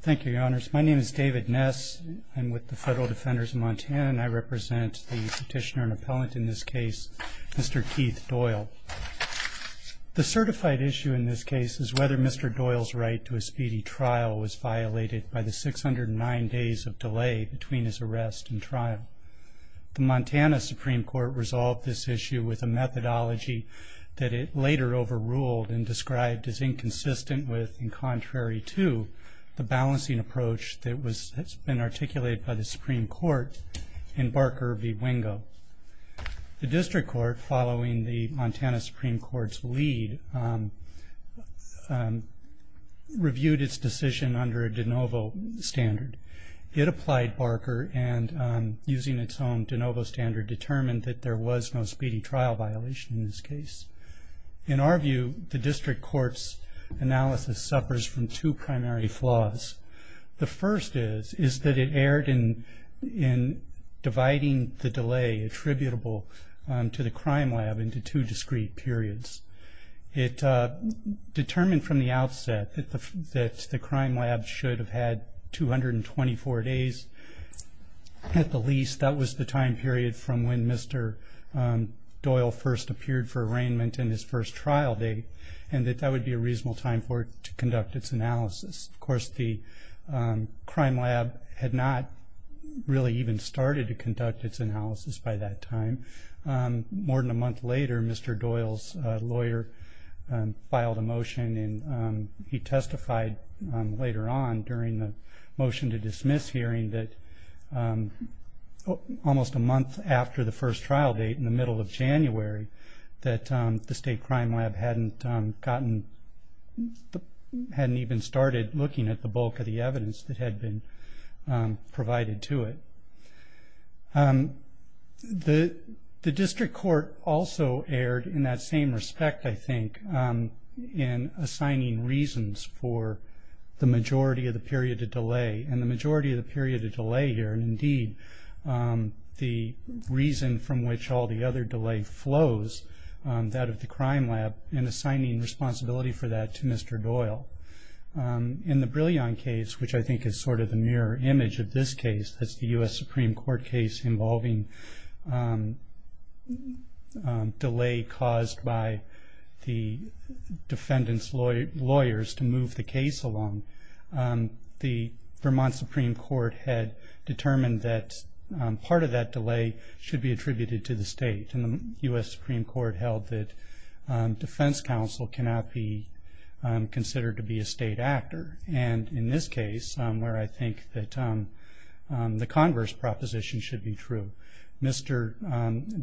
Thank you, Your Honors. My name is David Ness. I'm with the Federal Defenders of Montana, and I represent the petitioner and appellant in this case, Mr. Keith Doyle. The certified issue in this case is whether Mr. Doyle's right to a speedy trial was violated by the 609 days of delay between his arrest and trial. The Montana Supreme Court resolved this issue with a methodology that it later overruled and described as inconsistent with and contrary to the balancing approach that has been articulated by the Supreme Court in Barker v. Wingo. The District Court, following the Montana Supreme Court's lead, reviewed its decision under a de novo standard. It applied Barker and, using its own de novo standard, determined that there was no speedy trial violation in this case. In our view, the District Court's analysis suffers from two primary flaws. The first is that it erred in dividing the delay attributable to the crime lab into two discrete periods. It determined from the outset that the crime lab should have had 224 days at the least. That was the time period from when Mr. Doyle first appeared for arraignment and his first trial date, and that that would be a reasonable time for it to conduct its analysis. Of course, the crime lab had not really even started to conduct its analysis by that time. More than a month later, Mr. Doyle's lawyer filed a motion, and he testified later on during the motion to dismiss hearing that almost a month after the first trial date, in the middle of January, that the state crime lab hadn't even started looking at the bulk of the evidence that had been provided to it. The District Court also erred in that same respect, I think, in assigning reasons for the majority of the period of delay, and the majority of the period of delay here, and indeed the reason from which all the other delay flows, that of the crime lab, and assigning responsibility for that to Mr. Doyle. In the Brilliant case, which I think is sort of the mirror image of this case, that's the U.S. Supreme Court case involving delay caused by the defendant's lawyers to move the case along, the Vermont Supreme Court had determined that part of that delay should be attributed to the state, and the U.S. Supreme Court held that defense counsel cannot be considered to be a state actor. And in this case, where I think that the Congress proposition should be true, Mr.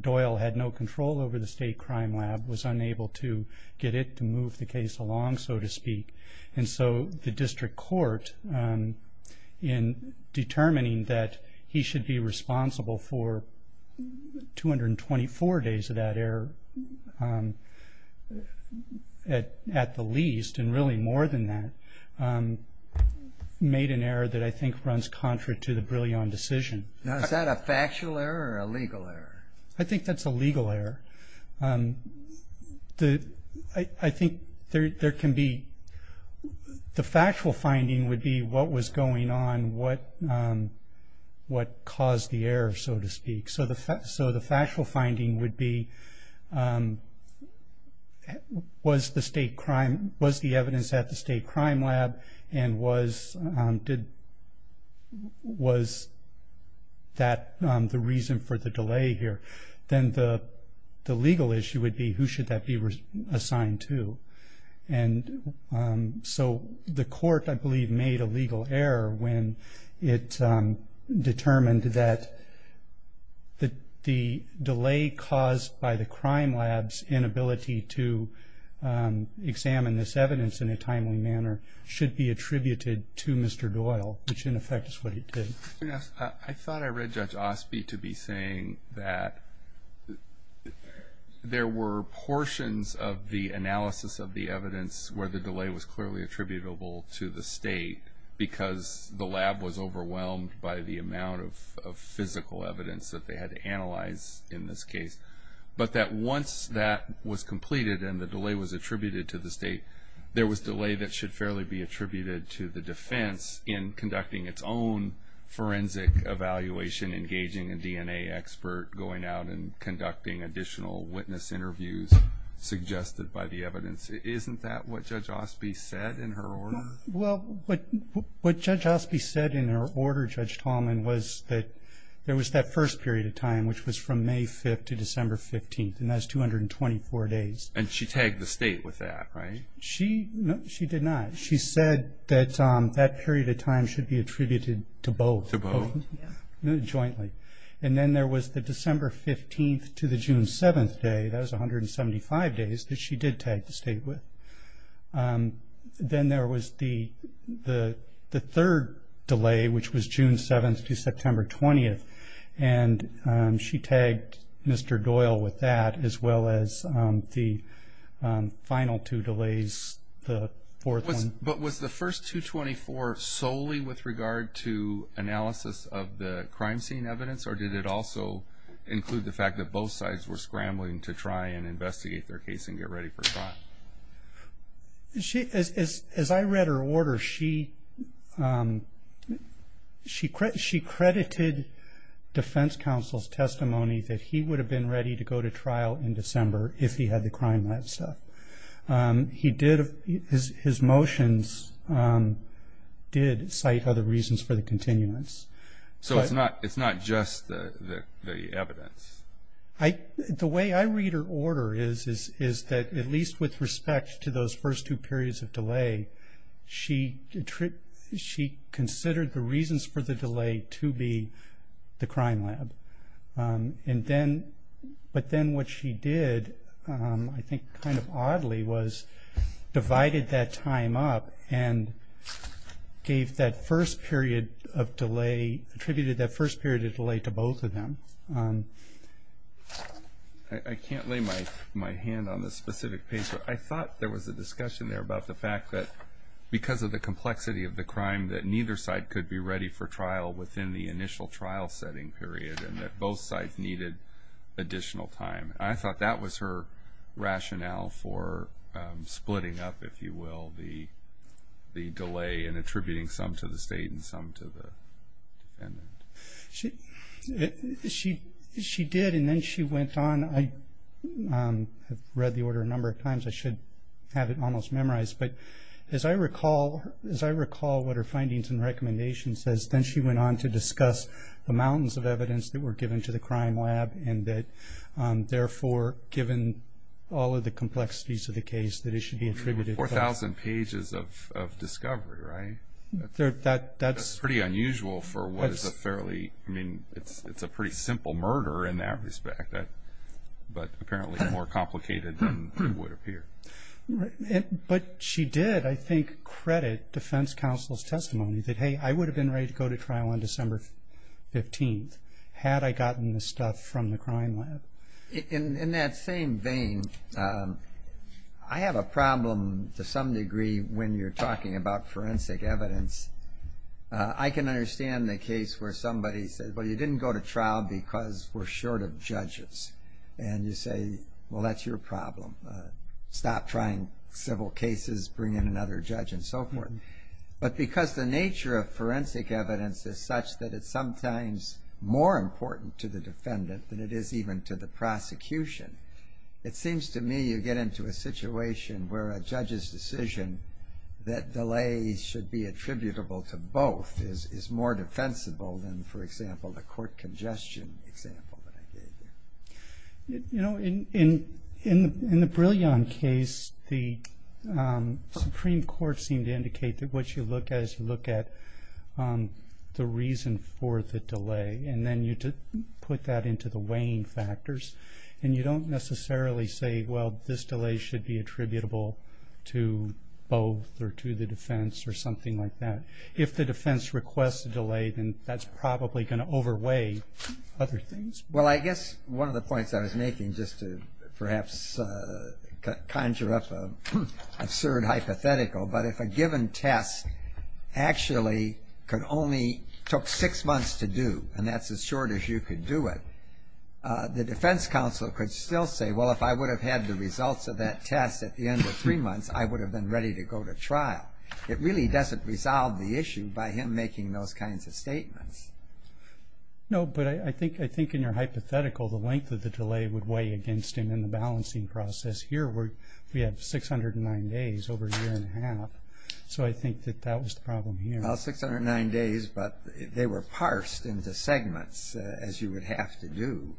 Doyle had no control over the state crime lab, was unable to get it to move the case along, so to speak, and so the District Court, in determining that he should be responsible for 224 days of that error at the least, and really more than that, made an error that I think runs contrary to the Brilliant decision. Is that a factual error or a legal error? I think that's a legal error. I think there can be, the factual finding would be what was going on, what caused the error, so to speak. So the factual finding would be, was the evidence at the state crime lab, and was that the reason for the delay here? Then the legal issue would be, who should that be assigned to? And so the court, I believe, made a legal error when it determined that the delay caused by the crime lab's inability to examine this evidence in a timely manner should be attributed to Mr. Doyle, which in effect is what he did. I thought I read Judge Osby to be saying that there were portions of the analysis of the evidence where the delay was clearly attributable to the state because the lab was overwhelmed by the amount of physical evidence that they had to analyze in this case, but that once that was completed and the delay was attributed to the state, there was delay that should fairly be attributed to the defense in conducting its own forensic evaluation, engaging a DNA expert, going out and conducting additional witness interviews suggested by the evidence. Isn't that what Judge Osby said in her order? Well, what Judge Osby said in her order, Judge Tallman, was that there was that first period of time, which was from May 5th to December 15th, and that's 224 days. And she tagged the state with that, right? No, she did not. She said that that period of time should be attributed to both jointly. And then there was the December 15th to the June 7th day. That was 175 days that she did tag the state with. Then there was the third delay, which was June 7th to September 20th, and she tagged Mr. Doyle with that as well as the final two delays, the fourth one. But was the first 224 solely with regard to analysis of the crime scene evidence, or did it also include the fact that both sides were scrambling to try and investigate their case and get ready for trial? As I read her order, she credited defense counsel's testimony that he would have been ready to go to trial in December if he had the crime lab stuff. His motions did cite other reasons for the continuance. So it's not just the evidence? The way I read her order is that at least with respect to those first two periods of delay, she considered the reasons for the delay to be the crime lab. But then what she did, I think kind of oddly, was divided that time up and gave that first period of delay, attributed that first period of delay to both of them. I can't lay my hand on this specific paper. I thought there was a discussion there about the fact that because of the complexity of the crime, that neither side could be ready for trial within the initial trial-setting period and that both sides needed additional time. I thought that was her rationale for splitting up, if you will, the delay in attributing some to the state and some to the defendant. She did, and then she went on. I have read the order a number of times. I should have it almost memorized. But as I recall what her findings and recommendations says, then she went on to discuss the mountains of evidence that were given to the crime lab and that, therefore, given all of the complexities of the case, that it should be attributed to both. Four thousand pages of discovery, right? That's pretty unusual for what is a fairly, I mean, it's a pretty simple murder in that respect, but apparently more complicated than it would appear. But she did, I think, credit defense counsel's testimony that, hey, I would have been ready to go to trial on December 15th had I gotten the stuff from the crime lab. In that same vein, I have a problem to some degree when you're talking about forensic evidence. I can understand the case where somebody says, well, you didn't go to trial because we're short of judges. And you say, well, that's your problem. Stop trying civil cases, bring in another judge, and so forth. But because the nature of forensic evidence is such that it's sometimes more important to the defendant than it is even to the prosecution, it seems to me you get into a situation where a judge's decision that delays should be attributable to both is more defensible than, for example, the court congestion example that I gave you. You know, in the Brilliant case, the Supreme Court seemed to indicate that what you look at is you look at the reason for the delay, and then you put that into the weighing factors. And you don't necessarily say, well, this delay should be attributable to both or to the defense or something like that. If the defense requests a delay, then that's probably going to overweigh other things. Well, I guess one of the points I was making, just to perhaps conjure up an absurd hypothetical, but if a given test actually could only took six months to do, and that's as short as you could do it, the defense counsel could still say, well, if I would have had the results of that test at the end of three months, I would have been ready to go to trial. It really doesn't resolve the issue by him making those kinds of statements. No, but I think in your hypothetical, the length of the delay would weigh against him in the balancing process. Here, we have 609 days over a year and a half. So I think that that was the problem here. Well, 609 days, but they were parsed into segments, as you would have to do.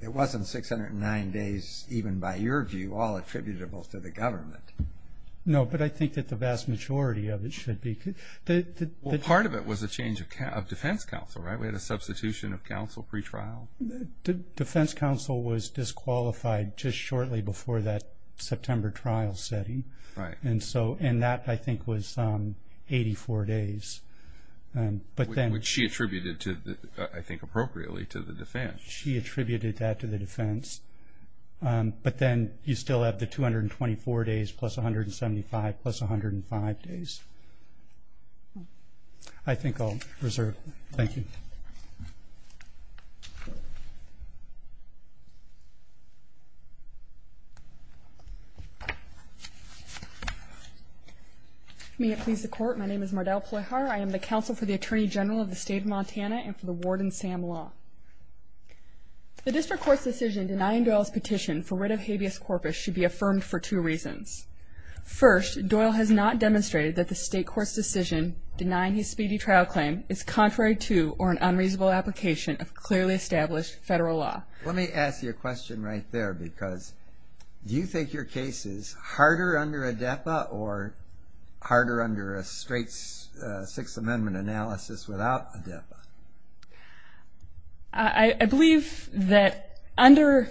It wasn't 609 days, even by your view, all attributable to the government. No, but I think that the vast majority of it should be. Well, part of it was a change of defense counsel, right? We had a substitution of counsel pretrial. Defense counsel was disqualified just shortly before that September trial setting. Right. And that, I think, was 84 days. Which she attributed, I think, appropriately to the defense. She attributed that to the defense. But then you still have the 224 days plus 175 plus 105 days. I think I'll reserve. Thank you. May it please the Court, my name is Mardell Pleyhar. I am the counsel for the Attorney General of the State of Montana and for the Warden Sam Law. The district court's decision denying Doyle's petition for writ of habeas corpus should be affirmed for two reasons. First, Doyle has not demonstrated that the state court's decision denying his speedy trial claim is contrary to or an unreasonable application of clearly established federal law. Let me ask you a question right there, because do you think your case is harder under a DEPA or harder under a straight Sixth Amendment analysis without a DEPA? I believe that under,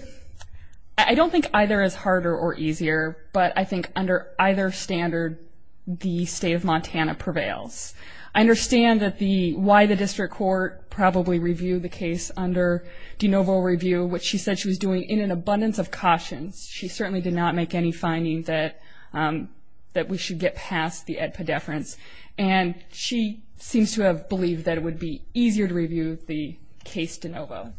I don't think either is harder or easier, but I think under either standard the State of Montana prevails. I understand that the, why the district court probably reviewed the case under de novo review, which she said she was doing in an abundance of cautions. She certainly did not make any findings that we should get past the DEPA deference, and she seems to have believed that it would be easier to review the case de novo.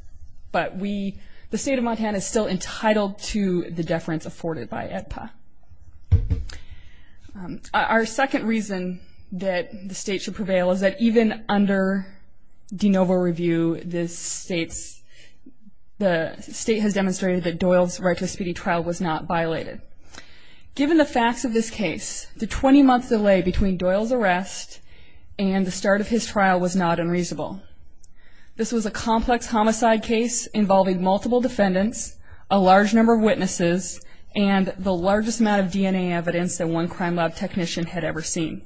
But we, the State of Montana is still entitled to the deference afforded by DEPA. Our second reason that the state should prevail is that even under de novo review, the state has demonstrated that Doyle's right to a speedy trial was not violated. Given the facts of this case, the 20-month delay between Doyle's arrest and the start of his trial was not unreasonable. This was a complex homicide case involving multiple defendants, a large number of witnesses, and the largest amount of DNA evidence that one crime lab technician had ever seen.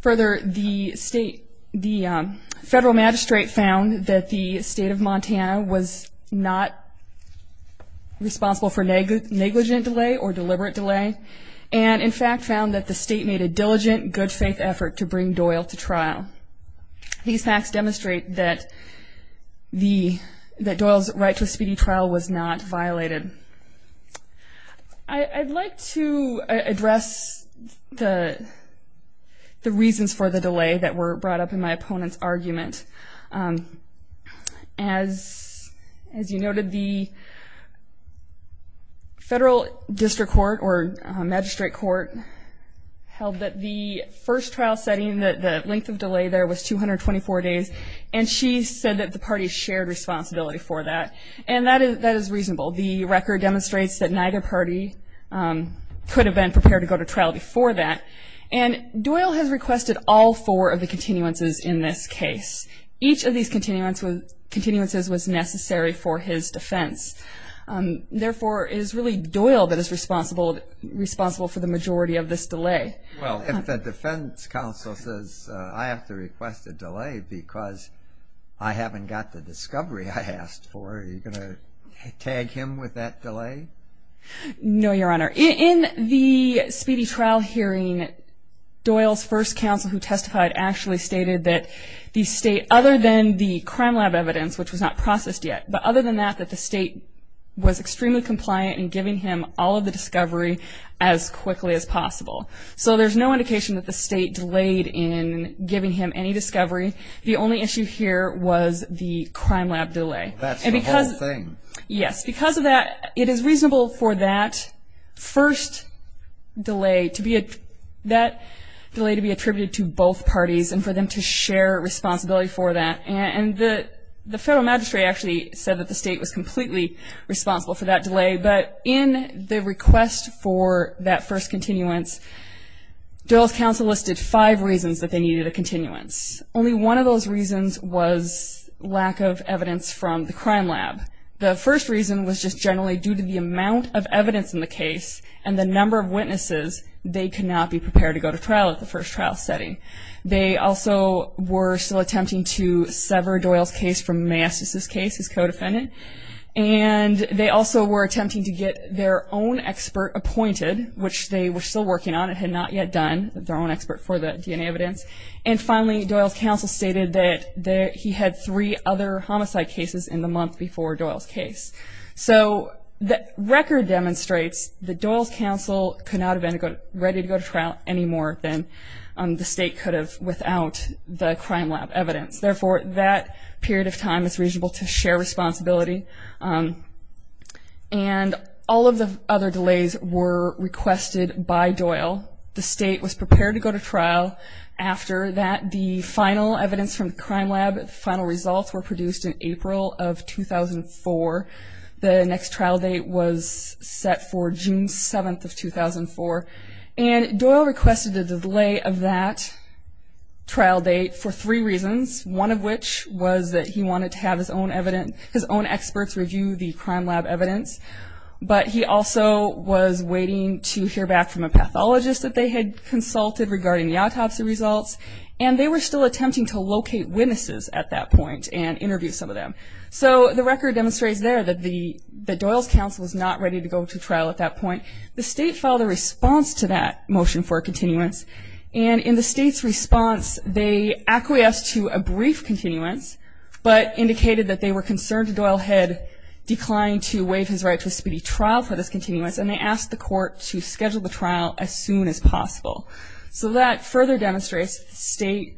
Further, the state, the federal magistrate found that the State of Montana was not responsible for negligent delay or deliberate delay, and in fact found that the state made a diligent, good-faith effort to bring Doyle to trial. These facts demonstrate that Doyle's right to a speedy trial was not violated. I'd like to address the reasons for the delay that were brought up in my opponent's argument. As you noted, the federal district court or magistrate court held that the first trial setting, the length of delay there was 224 days, and she said that the parties shared responsibility for that. And that is reasonable. The record demonstrates that neither party could have been prepared to go to trial before that. And Doyle has requested all four of the continuances in this case. Each of these continuances was necessary for his defense. Therefore, it is really Doyle that is responsible for the majority of this delay. Well, if the defense counsel says, I have to request a delay because I haven't got the discovery I asked for, are you going to tag him with that delay? No, Your Honor. In the speedy trial hearing, Doyle's first counsel who testified actually stated that the state, other than the crime lab evidence, which was not processed yet, but other than that, that the state was extremely compliant in giving him all of the discovery as quickly as possible. So there's no indication that the state delayed in giving him any discovery. The only issue here was the crime lab delay. That's the whole thing. Yes. Because of that, it is reasonable for that first delay to be attributed to both parties and for them to share responsibility for that. And the federal magistrate actually said that the state was completely responsible for that delay. But in the request for that first continuance, Doyle's counsel listed five reasons that they needed a continuance. Only one of those reasons was lack of evidence from the crime lab. The first reason was just generally due to the amount of evidence in the case and the number of witnesses they could not be prepared to go to trial at the first trial setting. They also were still attempting to sever Doyle's case from Maestas' case, his co-defendant. And they also were attempting to get their own expert appointed, which they were still working on and had not yet done, their own expert for the DNA evidence. And finally, Doyle's counsel stated that he had three other homicide cases in the month before Doyle's case. So the record demonstrates that Doyle's counsel could not have been ready to go to trial any more than the state could have without the crime lab evidence. Therefore, that period of time is reasonable to share responsibility. And all of the other delays were requested by Doyle. The state was prepared to go to trial after that. The final evidence from the crime lab, the final results were produced in April of 2004. The next trial date was set for June 7th of 2004. And Doyle requested a delay of that trial date for three reasons, one of which was that he wanted to have his own experts review the crime lab evidence. But he also was waiting to hear back from a pathologist that they had consulted regarding the autopsy results. And they were still attempting to locate witnesses at that point and interview some of them. So the record demonstrates there that Doyle's counsel was not ready to go to trial at that point. The state filed a response to that motion for a continuance. And in the state's response, they acquiesced to a brief continuance, but indicated that they were concerned that Doyle had declined to waive his right to a speedy trial for this continuance. And they asked the court to schedule the trial as soon as possible. So that further demonstrates the state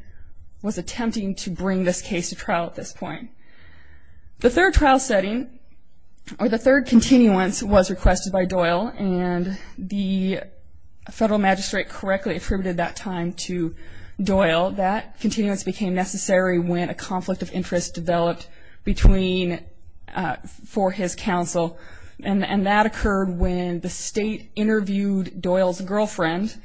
was attempting to bring this case to trial at this point. The third trial setting, or the third continuance, was requested by Doyle. And the federal magistrate correctly attributed that time to Doyle. That continuance became necessary when a conflict of interest developed for his counsel. And that occurred when the state interviewed Doyle's girlfriend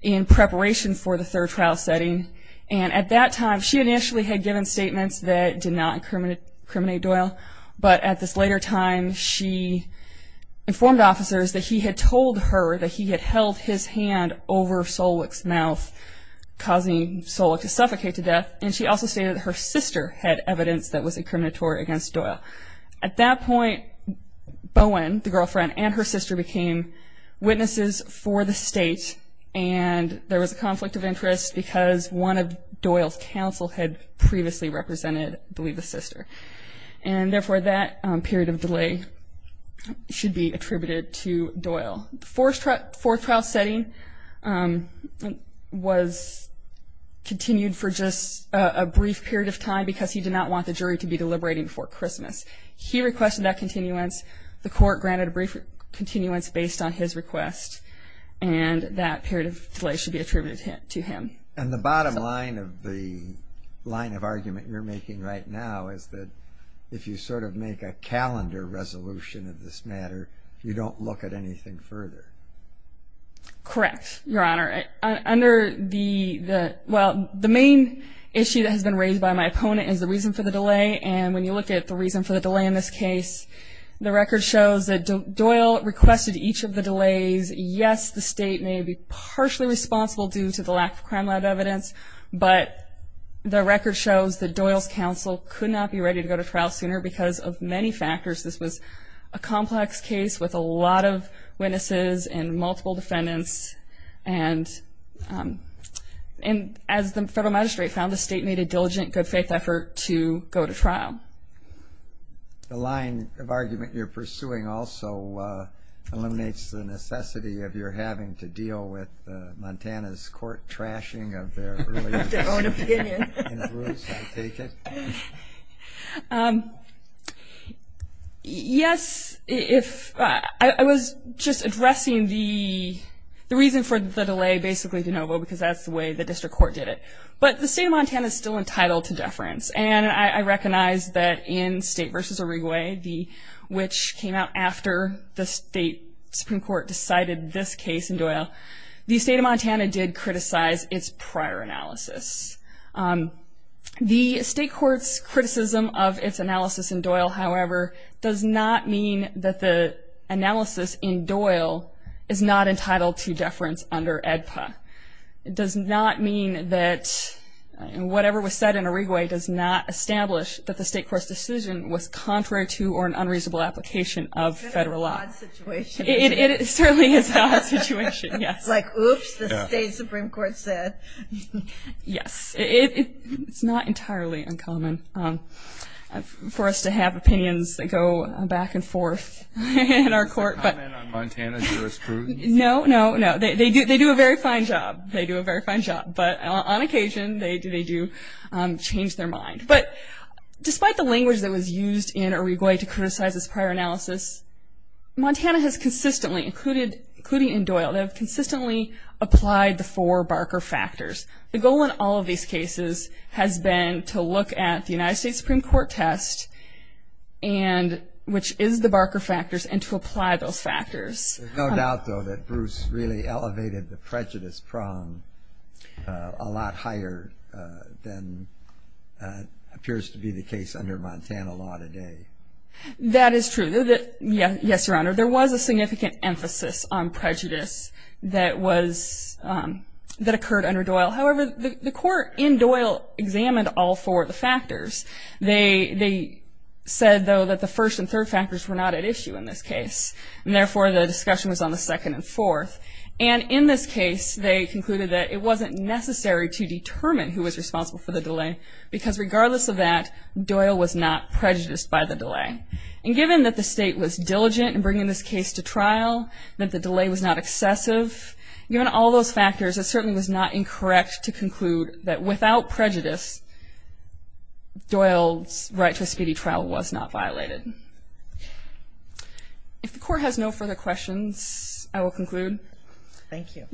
in preparation for the third trial setting. And at that time, she initially had given statements that did not incriminate Doyle. But at this later time, she informed officers that he had told her that he had held his hand over Solick's mouth, causing Solick to suffocate to death. And she also stated that her sister had evidence that was incriminatory against Doyle. At that point, Bowen, the girlfriend, and her sister became witnesses for the state. And there was a conflict of interest because one of Doyle's counsel had previously represented, I believe, the sister. And therefore, that period of delay should be attributed to Doyle. The fourth trial setting was continued for just a brief period of time because he did not want the jury to be deliberating before Christmas. He requested that continuance. The court granted a brief continuance based on his request. And that period of delay should be attributed to him. And the bottom line of the line of argument you're making right now is that if you sort of make a calendar resolution of this matter, you don't look at anything further. Correct, Your Honor. Under the – well, the main issue that has been raised by my opponent is the reason for the delay. And when you look at the reason for the delay in this case, the record shows that Doyle requested each of the delays. Yes, the state may be partially responsible due to the lack of crime lab evidence. But the record shows that Doyle's counsel could not be ready to go to trial sooner because of many factors. This was a complex case with a lot of witnesses and multiple defendants. And as the federal magistrate found, the state made a diligent, good-faith effort to go to trial. The line of argument you're pursuing also eliminates the necessity of your having to deal with Montana's court trashing of their – Their own opinion. In other words, I take it. Yes, if – I was just addressing the reason for the delay, basically, de novo, because that's the way the district court did it. But the state of Montana is still entitled to deference. And I recognize that in State v. Oregway, which came out after the state Supreme Court decided this case in Doyle, the state of Montana did criticize its prior analysis. The state court's criticism of its analysis in Doyle, however, does not mean that the analysis in Doyle is not entitled to deference under AEDPA. It does not mean that whatever was said in Oregway does not establish that the state court's decision was contrary to or an unreasonable application of federal law. It's an odd situation. It's an odd situation, yes. Like, oops, the state Supreme Court said. Yes. It's not entirely uncommon for us to have opinions that go back and forth in our court. Is there a comment on Montana's jurisprudence? No, no, no. They do a very fine job. They do a very fine job. But on occasion, they do change their mind. But despite the language that was used in Oregway to criticize its prior analysis, Montana has consistently, including in Doyle, they have consistently applied the four Barker factors. The goal in all of these cases has been to look at the United States Supreme Court test, which is the Barker factors, and to apply those factors. There's no doubt, though, that Bruce really elevated the prejudice prong a lot higher than appears to be the case under Montana law today. That is true. Yes, Your Honor, there was a significant emphasis on prejudice that occurred under Doyle. However, the court in Doyle examined all four of the factors. They said, though, that the first and third factors were not at issue in this case, and therefore the discussion was on the second and fourth. And in this case, they concluded that it wasn't necessary to determine who was responsible for the delay because regardless of that, Doyle was not prejudiced by the delay. And given that the state was diligent in bringing this case to trial, that the delay was not excessive, given all those factors, it certainly was not incorrect to conclude that without prejudice, Doyle's right to a speedy trial was not violated. If the Court has no further questions, I will conclude. Thank you.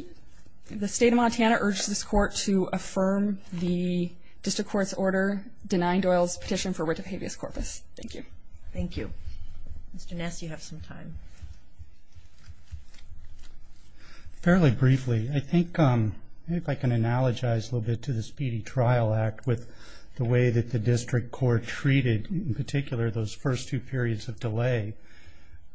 The State of Montana urges this Court to affirm the District Court's order denying Doyle's petition for writ of habeas corpus. Thank you. Thank you. Mr. Ness, you have some time. Fairly briefly, I think if I can analogize a little bit to the Speedy Trial Act with the way that the District Court treated, in particular, those first two periods of delay,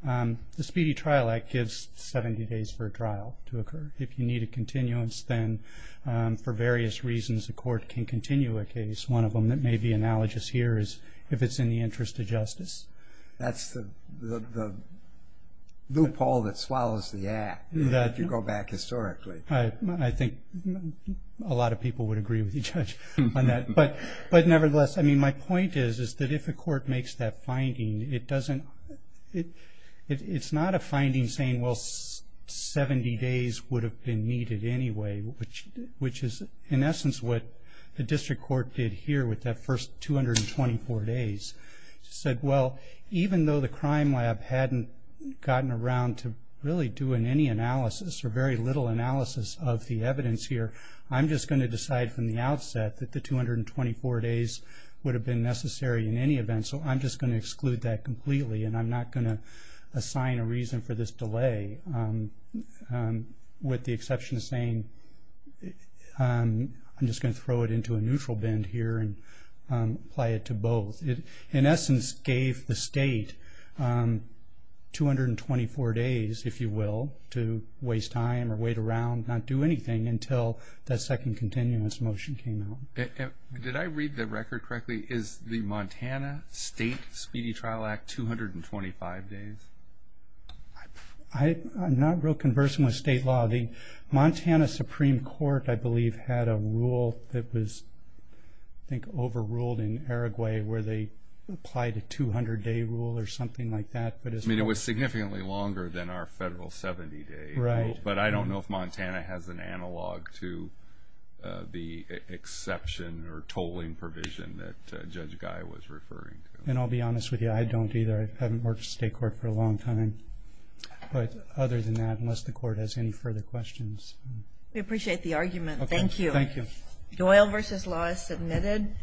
the Speedy Trial Act gives 70 days for a trial to occur. If you need a continuance, then for various reasons, the Court can continue a case. One of them that may be analogous here is if it's in the interest of justice. That's the loophole that swallows the act if you go back historically. I think a lot of people would agree with you, Judge, on that. Nevertheless, my point is that if the Court makes that finding, it's not a finding saying, well, 70 days would have been needed anyway, which is, in essence, what the District Court did here with that first 224 days. It said, well, even though the crime lab hadn't gotten around to really doing any analysis or very little analysis of the evidence here, I'm just going to decide from the outset that the 224 days would have been necessary in any event, so I'm just going to exclude that completely, and I'm not going to assign a reason for this delay, with the exception of saying, I'm just going to throw it into a neutral bend here and apply it to both. It, in essence, gave the State 224 days, if you will, to waste time or wait around, and not do anything until that second continuous motion came out. Did I read the record correctly? Is the Montana State Speedy Trial Act 225 days? I'm not real conversant with state law. The Montana Supreme Court, I believe, had a rule that was, I think, overruled in Araguay, where they applied a 200-day rule or something like that. I mean, it was significantly longer than our federal 70 days. Right. But I don't know if Montana has an analog to the exception or tolling provision that Judge Guy was referring to. And I'll be honest with you. I don't either. I haven't worked in state court for a long time. But other than that, unless the Court has any further questions. We appreciate the argument. Thank you. Thank you. Doyle v. Law is submitted.